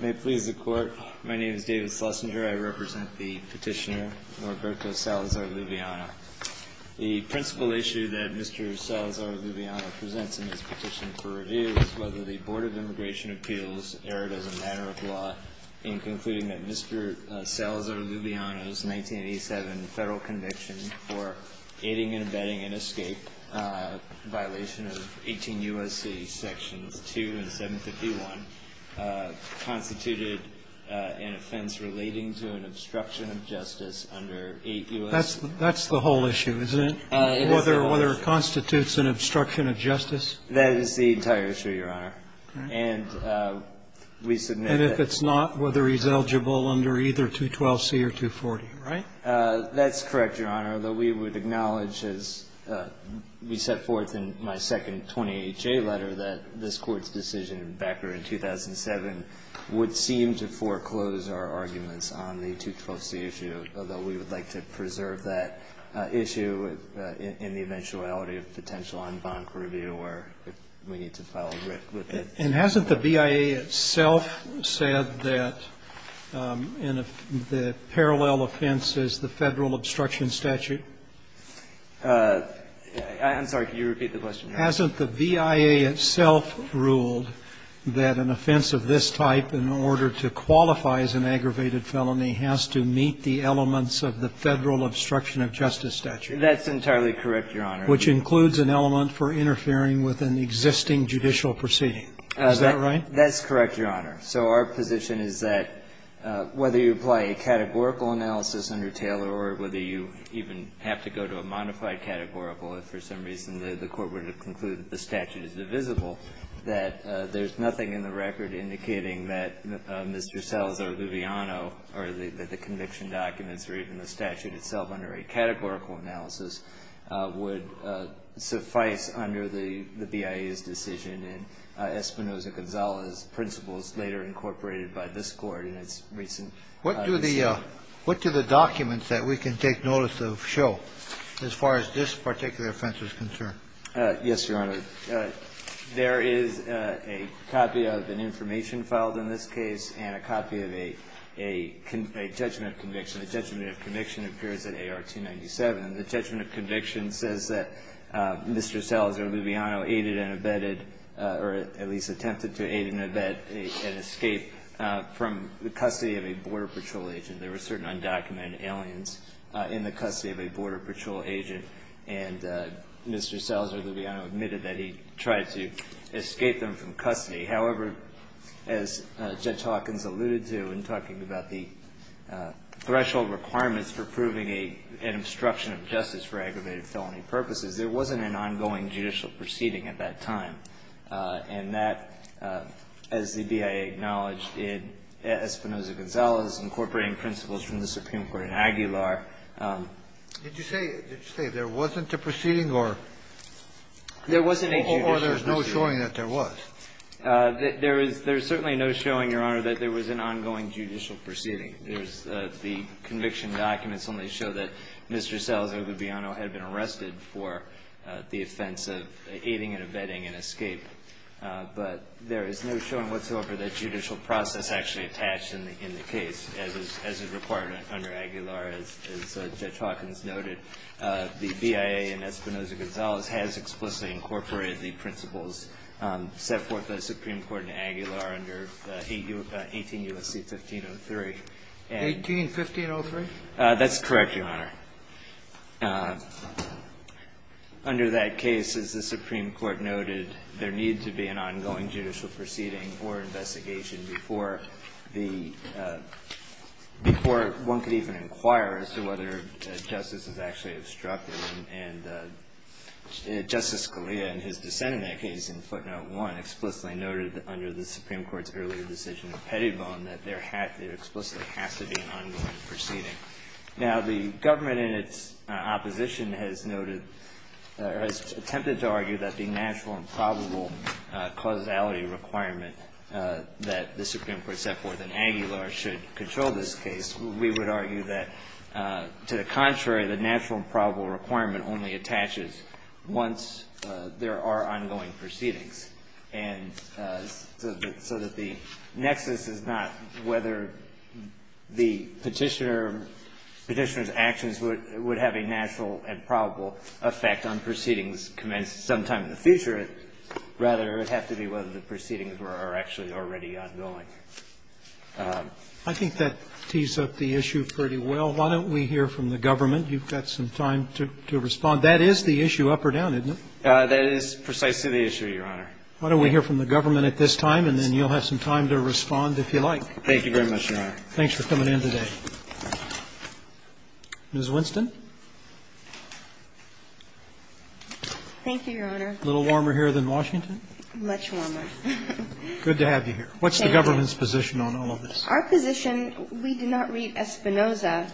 May it please the Court, my name is David Schlesinger. I represent the petitioner Norberto Salazar-Luviano. The principal issue that Mr. Salazar-Luviano presents in his petition for review is whether the Board of Immigration Appeals erred as a matter of law in concluding that Mr. Salazar-Luviano's 1987 federal conviction for aiding and abetting an escape violation of 18 U.S.C. sections 2 and 751 constituted an offense relating to an obstruction of justice under 8 U.S. That's the whole issue, isn't it, whether it constitutes an obstruction of justice? That is the entire issue, Your Honor. And we submit that And if it's not, whether he's eligible under either 212C or 240, right? That's correct, Your Honor. Although we would acknowledge, as we set forth in my second 20HA letter, that this Court's decision in Becker in 2007 would seem to foreclose our arguments on the 212C issue, although we would like to preserve that issue in the eventuality of potential en banc review or if we need to file a writ with it. And hasn't the BIA itself said that the parallel offense is the federal obstruction statute? I'm sorry. Can you repeat the question? Hasn't the BIA itself ruled that an offense of this type, in order to qualify as an aggravated felony, has to meet the elements of the federal obstruction of justice statute? That's entirely correct, Your Honor. Which includes an element for interfering with an existing judicial proceeding. Is that right? That's correct, Your Honor. So our position is that whether you apply a categorical analysis under Taylor or whether you even have to go to a modified categorical, if for some reason the Court were to conclude that the statute is divisible, that there's nothing in the record indicating that Mr. Sells or Loviano or the conviction documents or even the statute itself under a categorical analysis would suffice under the BIA's decision and Espinosa-Gonzalez's principles later incorporated by this Court in its recent decision. What do the documents that we can take notice of show as far as this particular offense is concerned? Yes, Your Honor. There is a copy of an information filed in this case and a copy of a judgment conviction. The judgment of conviction appears in AR 297. The judgment of conviction says that Mr. Sells or Loviano aided and abetted or at least attempted to aid and abet an escape from the custody of a Border Patrol agent. There were certain undocumented aliens in the custody of a Border Patrol agent, and Mr. Sells or Loviano admitted that he tried to escape them from custody. However, as Judge Hawkins alluded to in talking about the threshold requirements for proving an obstruction of justice for aggravated felony purposes, there wasn't an ongoing judicial proceeding at that time, and that, as the BIA acknowledged, in Espinosa-Gonzalez incorporating principles from the Supreme Court in Aguilar. Did you say there wasn't a proceeding or there's no showing that there was? There is certainly no showing, Your Honor, that there was an ongoing judicial proceeding. The conviction documents only show that Mr. Sells or Loviano had been arrested for the offense of aiding and abetting an escape. But there is no showing whatsoever that judicial process actually attached in the case, as is required under Aguilar, as Judge Hawkins noted. The BIA in Espinosa-Gonzalez has explicitly incorporated the principles set forth by the Supreme Court in Aguilar under 18 U.S.C. 1503. 18-1503? That's correct, Your Honor. Under that case, as the Supreme Court noted, there needed to be an ongoing judicial proceeding or investigation before the – before one could even inquire as to whether justice was actually obstructed. And Justice Scalia, in his dissent in that case in footnote 1, explicitly noted under the Supreme Court's earlier decision of Pettibone that there explicitly has to be an ongoing proceeding. Now, the government in its opposition has noted – has attempted to argue that the natural and probable causality requirement that the Supreme Court set forth in Aguilar should control this case. We would argue that, to the contrary, the natural and probable requirement only attaches once there are ongoing proceedings. And so that the nexus is not whether the Petitioner's actions would have a natural and probable effect on proceedings commenced sometime in the future. Rather, it would have to be whether the proceedings were actually already ongoing. I think that tees up the issue pretty well. Why don't we hear from the government? You've got some time to respond. That is the issue up or down, isn't it? That is precisely the issue, Your Honor. Why don't we hear from the government at this time, and then you'll have some time to respond if you like. Thank you very much, Your Honor. Thanks for coming in today. Ms. Winston. Thank you, Your Honor. A little warmer here than Washington? Much warmer. Good to have you here. What's the government's position on all of this? Our position, we did not read Espinoza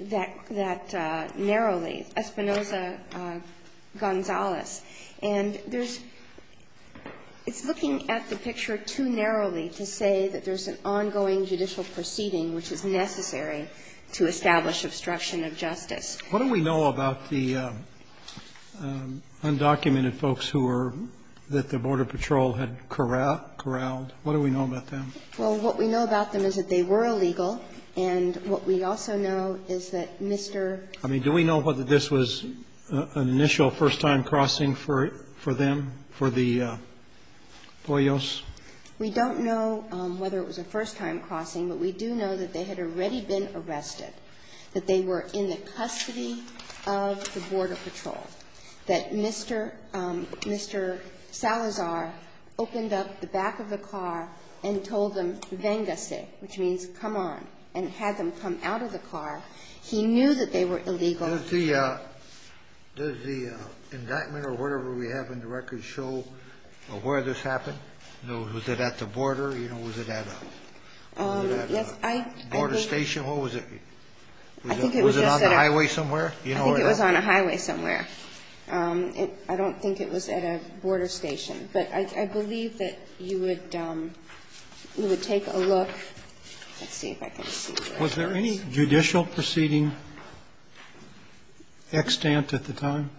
that narrowly, Espinoza-Gonzalez. And there's – it's looking at the picture too narrowly to say that there's an ongoing judicial proceeding which is necessary to establish obstruction of justice. What do we know about the undocumented folks who were – that the Border Patrol had corralled? What do we know about them? Well, what we know about them is that they were illegal, and what we also know is that Mr. ---- I mean, do we know whether this was an initial first-time crossing for them, for the Poyos? We don't know whether it was a first-time crossing, but we do know that they had already been arrested, that they were in the custody of the Border Patrol, that Mr. Salazar opened up the back of the car and told them, vengace, which means come on, and had them come out of the car. He knew that they were illegal. Does the indictment or whatever we have in the records show where this happened? Was it at the border? You know, was it at a border station? Was it on the highway somewhere? I think it was on a highway somewhere. I don't think it was at a border station. But I believe that you would take a look. Let's see if I can see. Was there any judicial proceeding extant at the time?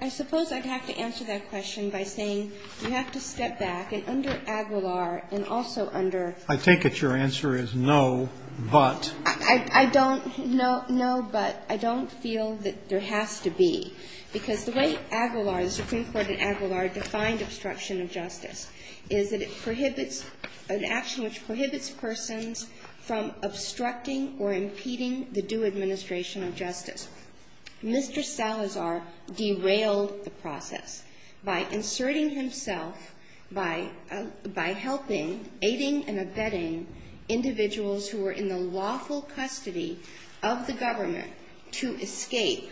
I suppose I'd have to answer that question by saying you have to step back, and under Aguilar and also under ---- I take it your answer is no, but. I don't ---- no, but. I don't feel that there has to be, because the way Aguilar, the Supreme Court in Aguilar defined obstruction of justice is that it prohibits an action which prohibits persons from obstructing or impeding the due administration of justice. Mr. Salazar derailed the process by inserting himself, by helping, aiding and abetting individuals who were in the lawful custody of the government to escape,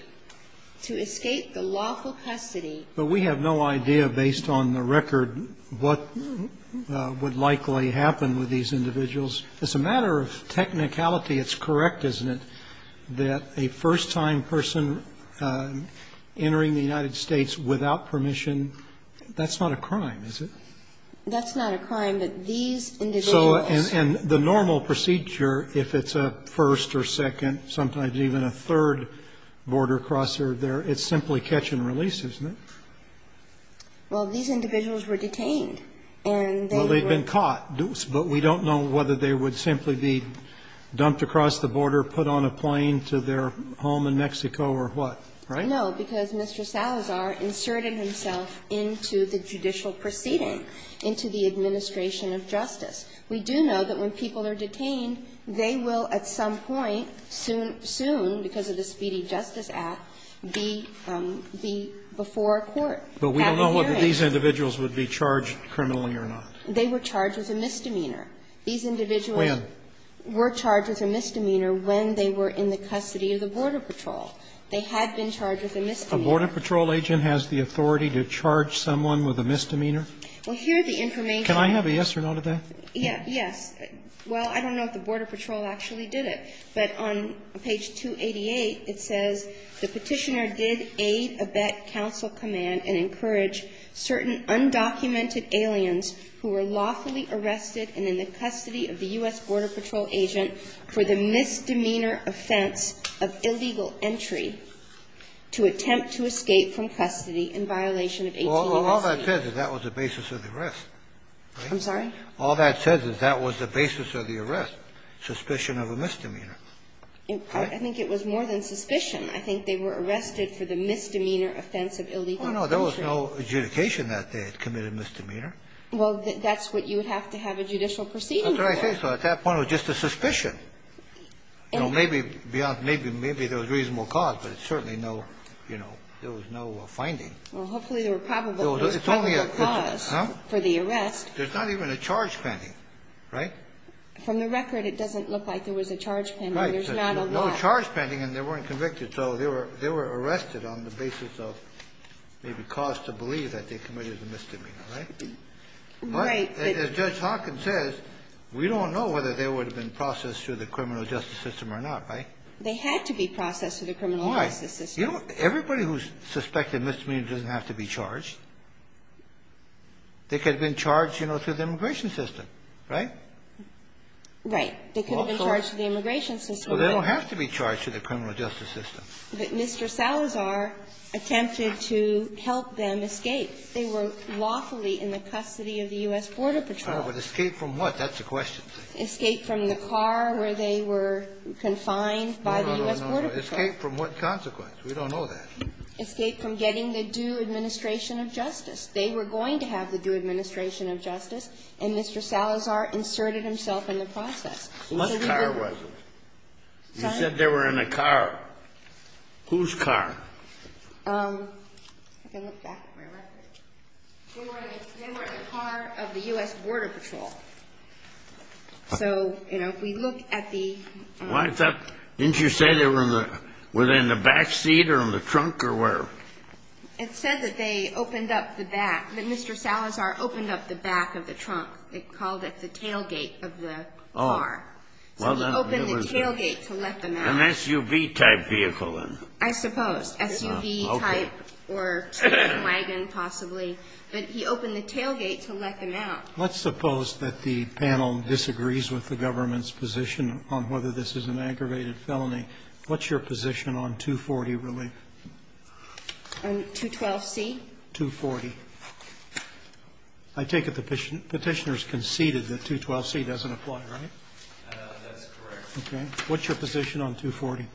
to escape the lawful custody. But we have no idea, based on the record, what would likely happen with these individuals. It's a matter of technicality. It's correct, isn't it, that a first-time person entering the United States without permission, that's not a crime, is it? That's not a crime, but these individuals. So the normal procedure, if it's a first or second, sometimes even a third border crosser, it's simply catch and release, isn't it? Well, these individuals were detained, and they were ---- Well, they've been caught. But we don't know whether they would simply be dumped across the border, put on a plane to their home in Mexico or what, right? No, because Mr. Salazar inserted himself into the judicial proceeding, into the administration of justice. We do know that when people are detained, they will at some point, soon, soon, because of the Speedy Justice Act, be before a court at a hearing. But we don't know whether these individuals would be charged criminally or not. They were charged with a misdemeanor. These individuals were charged with a misdemeanor when they were in the custody of the Border Patrol. They had been charged with a misdemeanor. A Border Patrol agent has the authority to charge someone with a misdemeanor? Well, here the information ---- Can I have a yes or no to that? Yes. Well, I don't know if the Border Patrol actually did it. But on page 288, it says the Petitioner did aid, abet, counsel, command and encourage certain undocumented aliens who were lawfully arrested and in the custody of the U.S. Border Patrol agent for the misdemeanor offense of illegal entry to attempt to escape from custody in violation of 1816. Well, all that says is that was the basis of the arrest. I'm sorry? All that says is that was the basis of the arrest, suspicion of a misdemeanor. I think it was more than suspicion. I think they were arrested for the misdemeanor offense of illegal entry. Well, no, there was no adjudication that they had committed misdemeanor. Well, that's what you would have to have a judicial proceeding for. That's what I think. So at that point, it was just a suspicion. You know, maybe beyond ---- maybe there was reasonable cause, but it's certainly no, you know, there was no finding. Well, hopefully there were probable causes for the arrest. There's not even a charge pending, right? From the record, it doesn't look like there was a charge pending. Right. There's not a law. There's no charge pending, and they weren't convicted. So they were arrested on the basis of maybe cause to believe that they committed a misdemeanor, right? Right. As Judge Hawkins says, we don't know whether they would have been processed through the criminal justice system or not, right? They had to be processed through the criminal justice system. Why? You know, everybody who's suspected misdemeanor doesn't have to be charged. They could have been charged, you know, through the immigration system, right? Right. They could have been charged through the immigration system. Well, they don't have to be charged through the criminal justice system. But Mr. Salazar attempted to help them escape. They were lawfully in the custody of the U.S. Border Patrol. Oh, but escape from what? That's the question. Escape from the car where they were confined by the U.S. Border Patrol. No, no, no. Escape from what consequence? We don't know that. Escape from getting the due administration of justice. They were going to have the due administration of justice, and Mr. Salazar inserted himself in the process. What car was it? Sorry? You said they were in a car. Whose car? I can look back at my record. They were in the car of the U.S. Border Patrol. So, you know, if we look at the – Didn't you say they were in the back seat or in the trunk or where? It said that they opened up the back, that Mr. Salazar opened up the back of the trunk. They called it the tailgate of the car. So he opened the tailgate to let them out. An SUV-type vehicle then? I suppose. SUV-type or wagon possibly. But he opened the tailgate to let them out. Let's suppose that the panel disagrees with the government's position on whether this is an aggravated felony. What's your position on 240 relief? On 212c? 240. I take it the Petitioner has conceded that 212c doesn't apply, right? That's correct. Okay. What's your position on 240?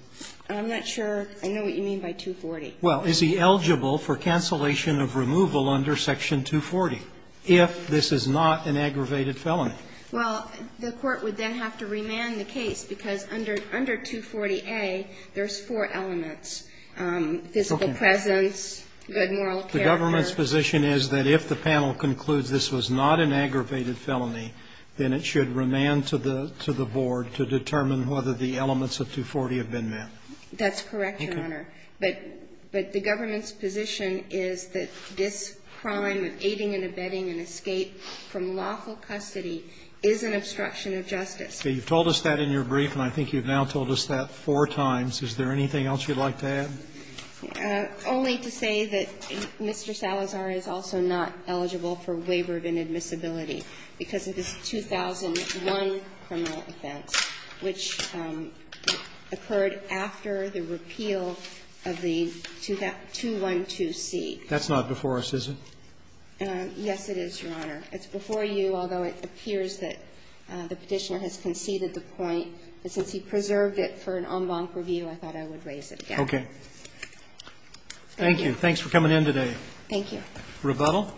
I'm not sure. I know what you mean by 240. Well, is he eligible for cancellation of removal under Section 240 if this is not an aggravated felony? Well, the court would then have to remand the case, because under 240a, there's four elements, physical presence, good moral character. The government's position is that if the panel concludes this was not an aggravated felony, then it should remand to the board to determine whether the elements of 240 have been met. That's correct, Your Honor. But the government's position is that this crime of aiding and abetting an escape from lawful custody is an obstruction of justice. You've told us that in your brief, and I think you've now told us that four times. Is there anything else you'd like to add? Only to say that Mr. Salazar is also not eligible for waiver of inadmissibility because of his 2001 criminal offense, which occurred after the repeal of the 212C. That's not before us, is it? Yes, it is, Your Honor. It's before you, although it appears that the Petitioner has conceded the point. And since he preserved it for an en banc review, I thought I would raise it again. Okay. Thank you. Thanks for coming in today. Thank you. Rebuttal?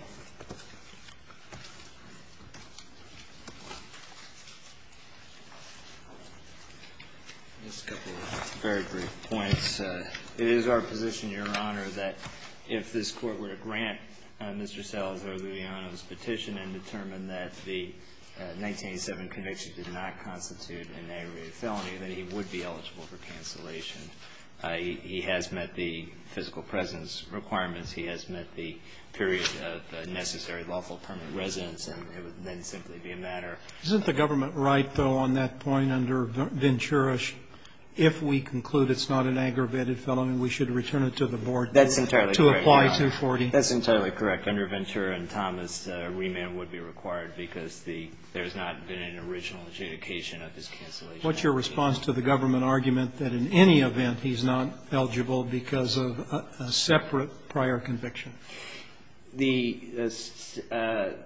Just a couple of very brief points. It is our position, Your Honor, that if this Court were to grant Mr. Salazar-Lujano's petition and determine that the 1987 conviction did not constitute an aggravated felony, then he would be eligible for cancellation. He has met the physical presence requirements. He has met the period of necessary lawful permanent residence. And it would then simply be a matter of the case. Isn't the government right, though, on that point, under Ventura, if we conclude it's not an aggravated felony, we should return it to the board to apply 240? That's entirely correct, Your Honor. That's entirely correct. Under Ventura and Thomas, remand would be required because there's not been an original adjudication of his cancellation. What's your response to the government argument that in any event he's not eligible because of a separate prior conviction? The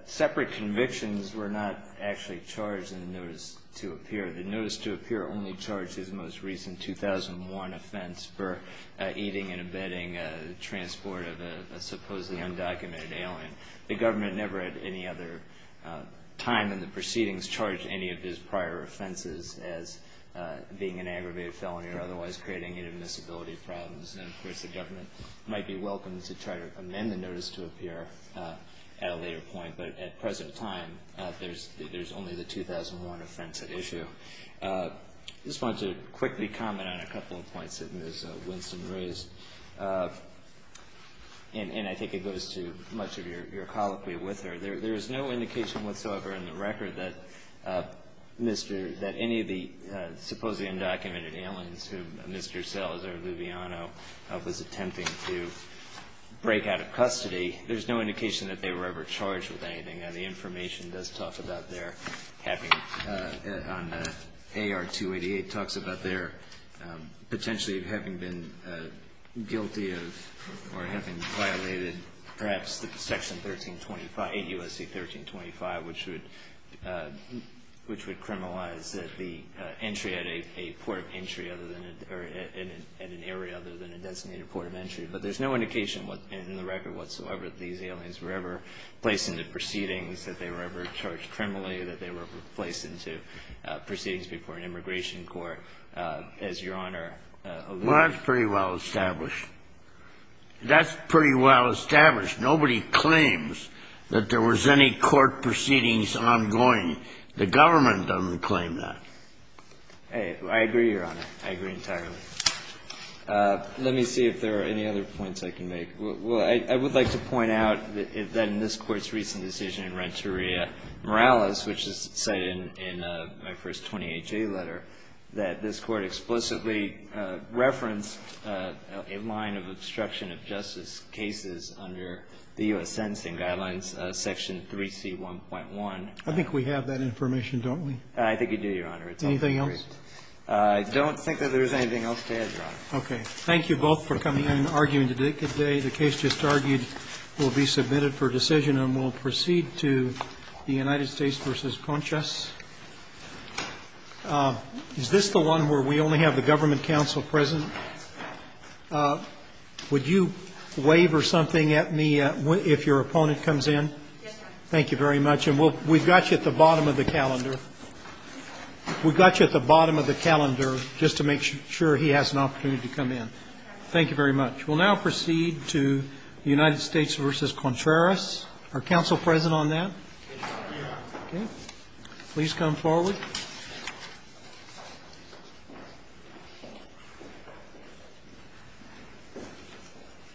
separate convictions were not actually charged in the notice to appear. The notice to appear only charged his most recent 2001 offense for eating and abetting transport of a supposedly undocumented alien. The government never at any other time in the proceedings charged any of his prior offenses as being an aggravated felony or otherwise creating inadmissibility problems. And, of course, the government might be welcome to try to amend the notice to appear at a later point. But at present time, there's only the 2001 offense at issue. I just wanted to quickly comment on a couple of points that Ms. Winston raised. And I think it goes to much of your colloquy with her. There is no indication whatsoever in the record that any of the supposedly undocumented aliens who Mr. Salazar-Luviano was attempting to break out of custody, there's no indication that they were ever charged with anything. Now, the information does talk about their having on AR-288 talks about their potentially having been guilty of or having violated perhaps Section 1325, 8 U.S.C. 1325, which would criminalize the entry at a port of entry at an area other than a designated port of entry. But there's no indication in the record whatsoever that these aliens were ever placed into proceedings, that they were ever charged criminally, that they were ever placed into proceedings before an immigration court. As Your Honor alluded to. Well, that's pretty well established. That's pretty well established. Nobody claims that there was any court proceedings ongoing. The government doesn't claim that. I agree, Your Honor. I agree entirely. Let me see if there are any other points I can make. Well, I would like to point out that in this Court's recent decision in Renteria Morales, which is cited in my first 20HA letter, that this Court explicitly referenced a line of obstruction of justice cases under the U.S. Sentencing Guidelines, Section 3C1.1. I think we have that information, don't we? I think we do, Your Honor. Anything else? I don't think that there's anything else to add, Your Honor. Thank you both for coming in and arguing today. The case just argued will be submitted for decision and will proceed to the United States v. Conchas. Is this the one where we only have the government counsel present? Would you wave or something at me if your opponent comes in? Yes, sir. Thank you very much. And we've got you at the bottom of the calendar. We've got you at the bottom of the calendar just to make sure he has an opportunity to come in. Thank you very much. We'll now proceed to the United States v. Contreras. Are counsel present on that? Yes, Your Honor. Okay. Please come forward.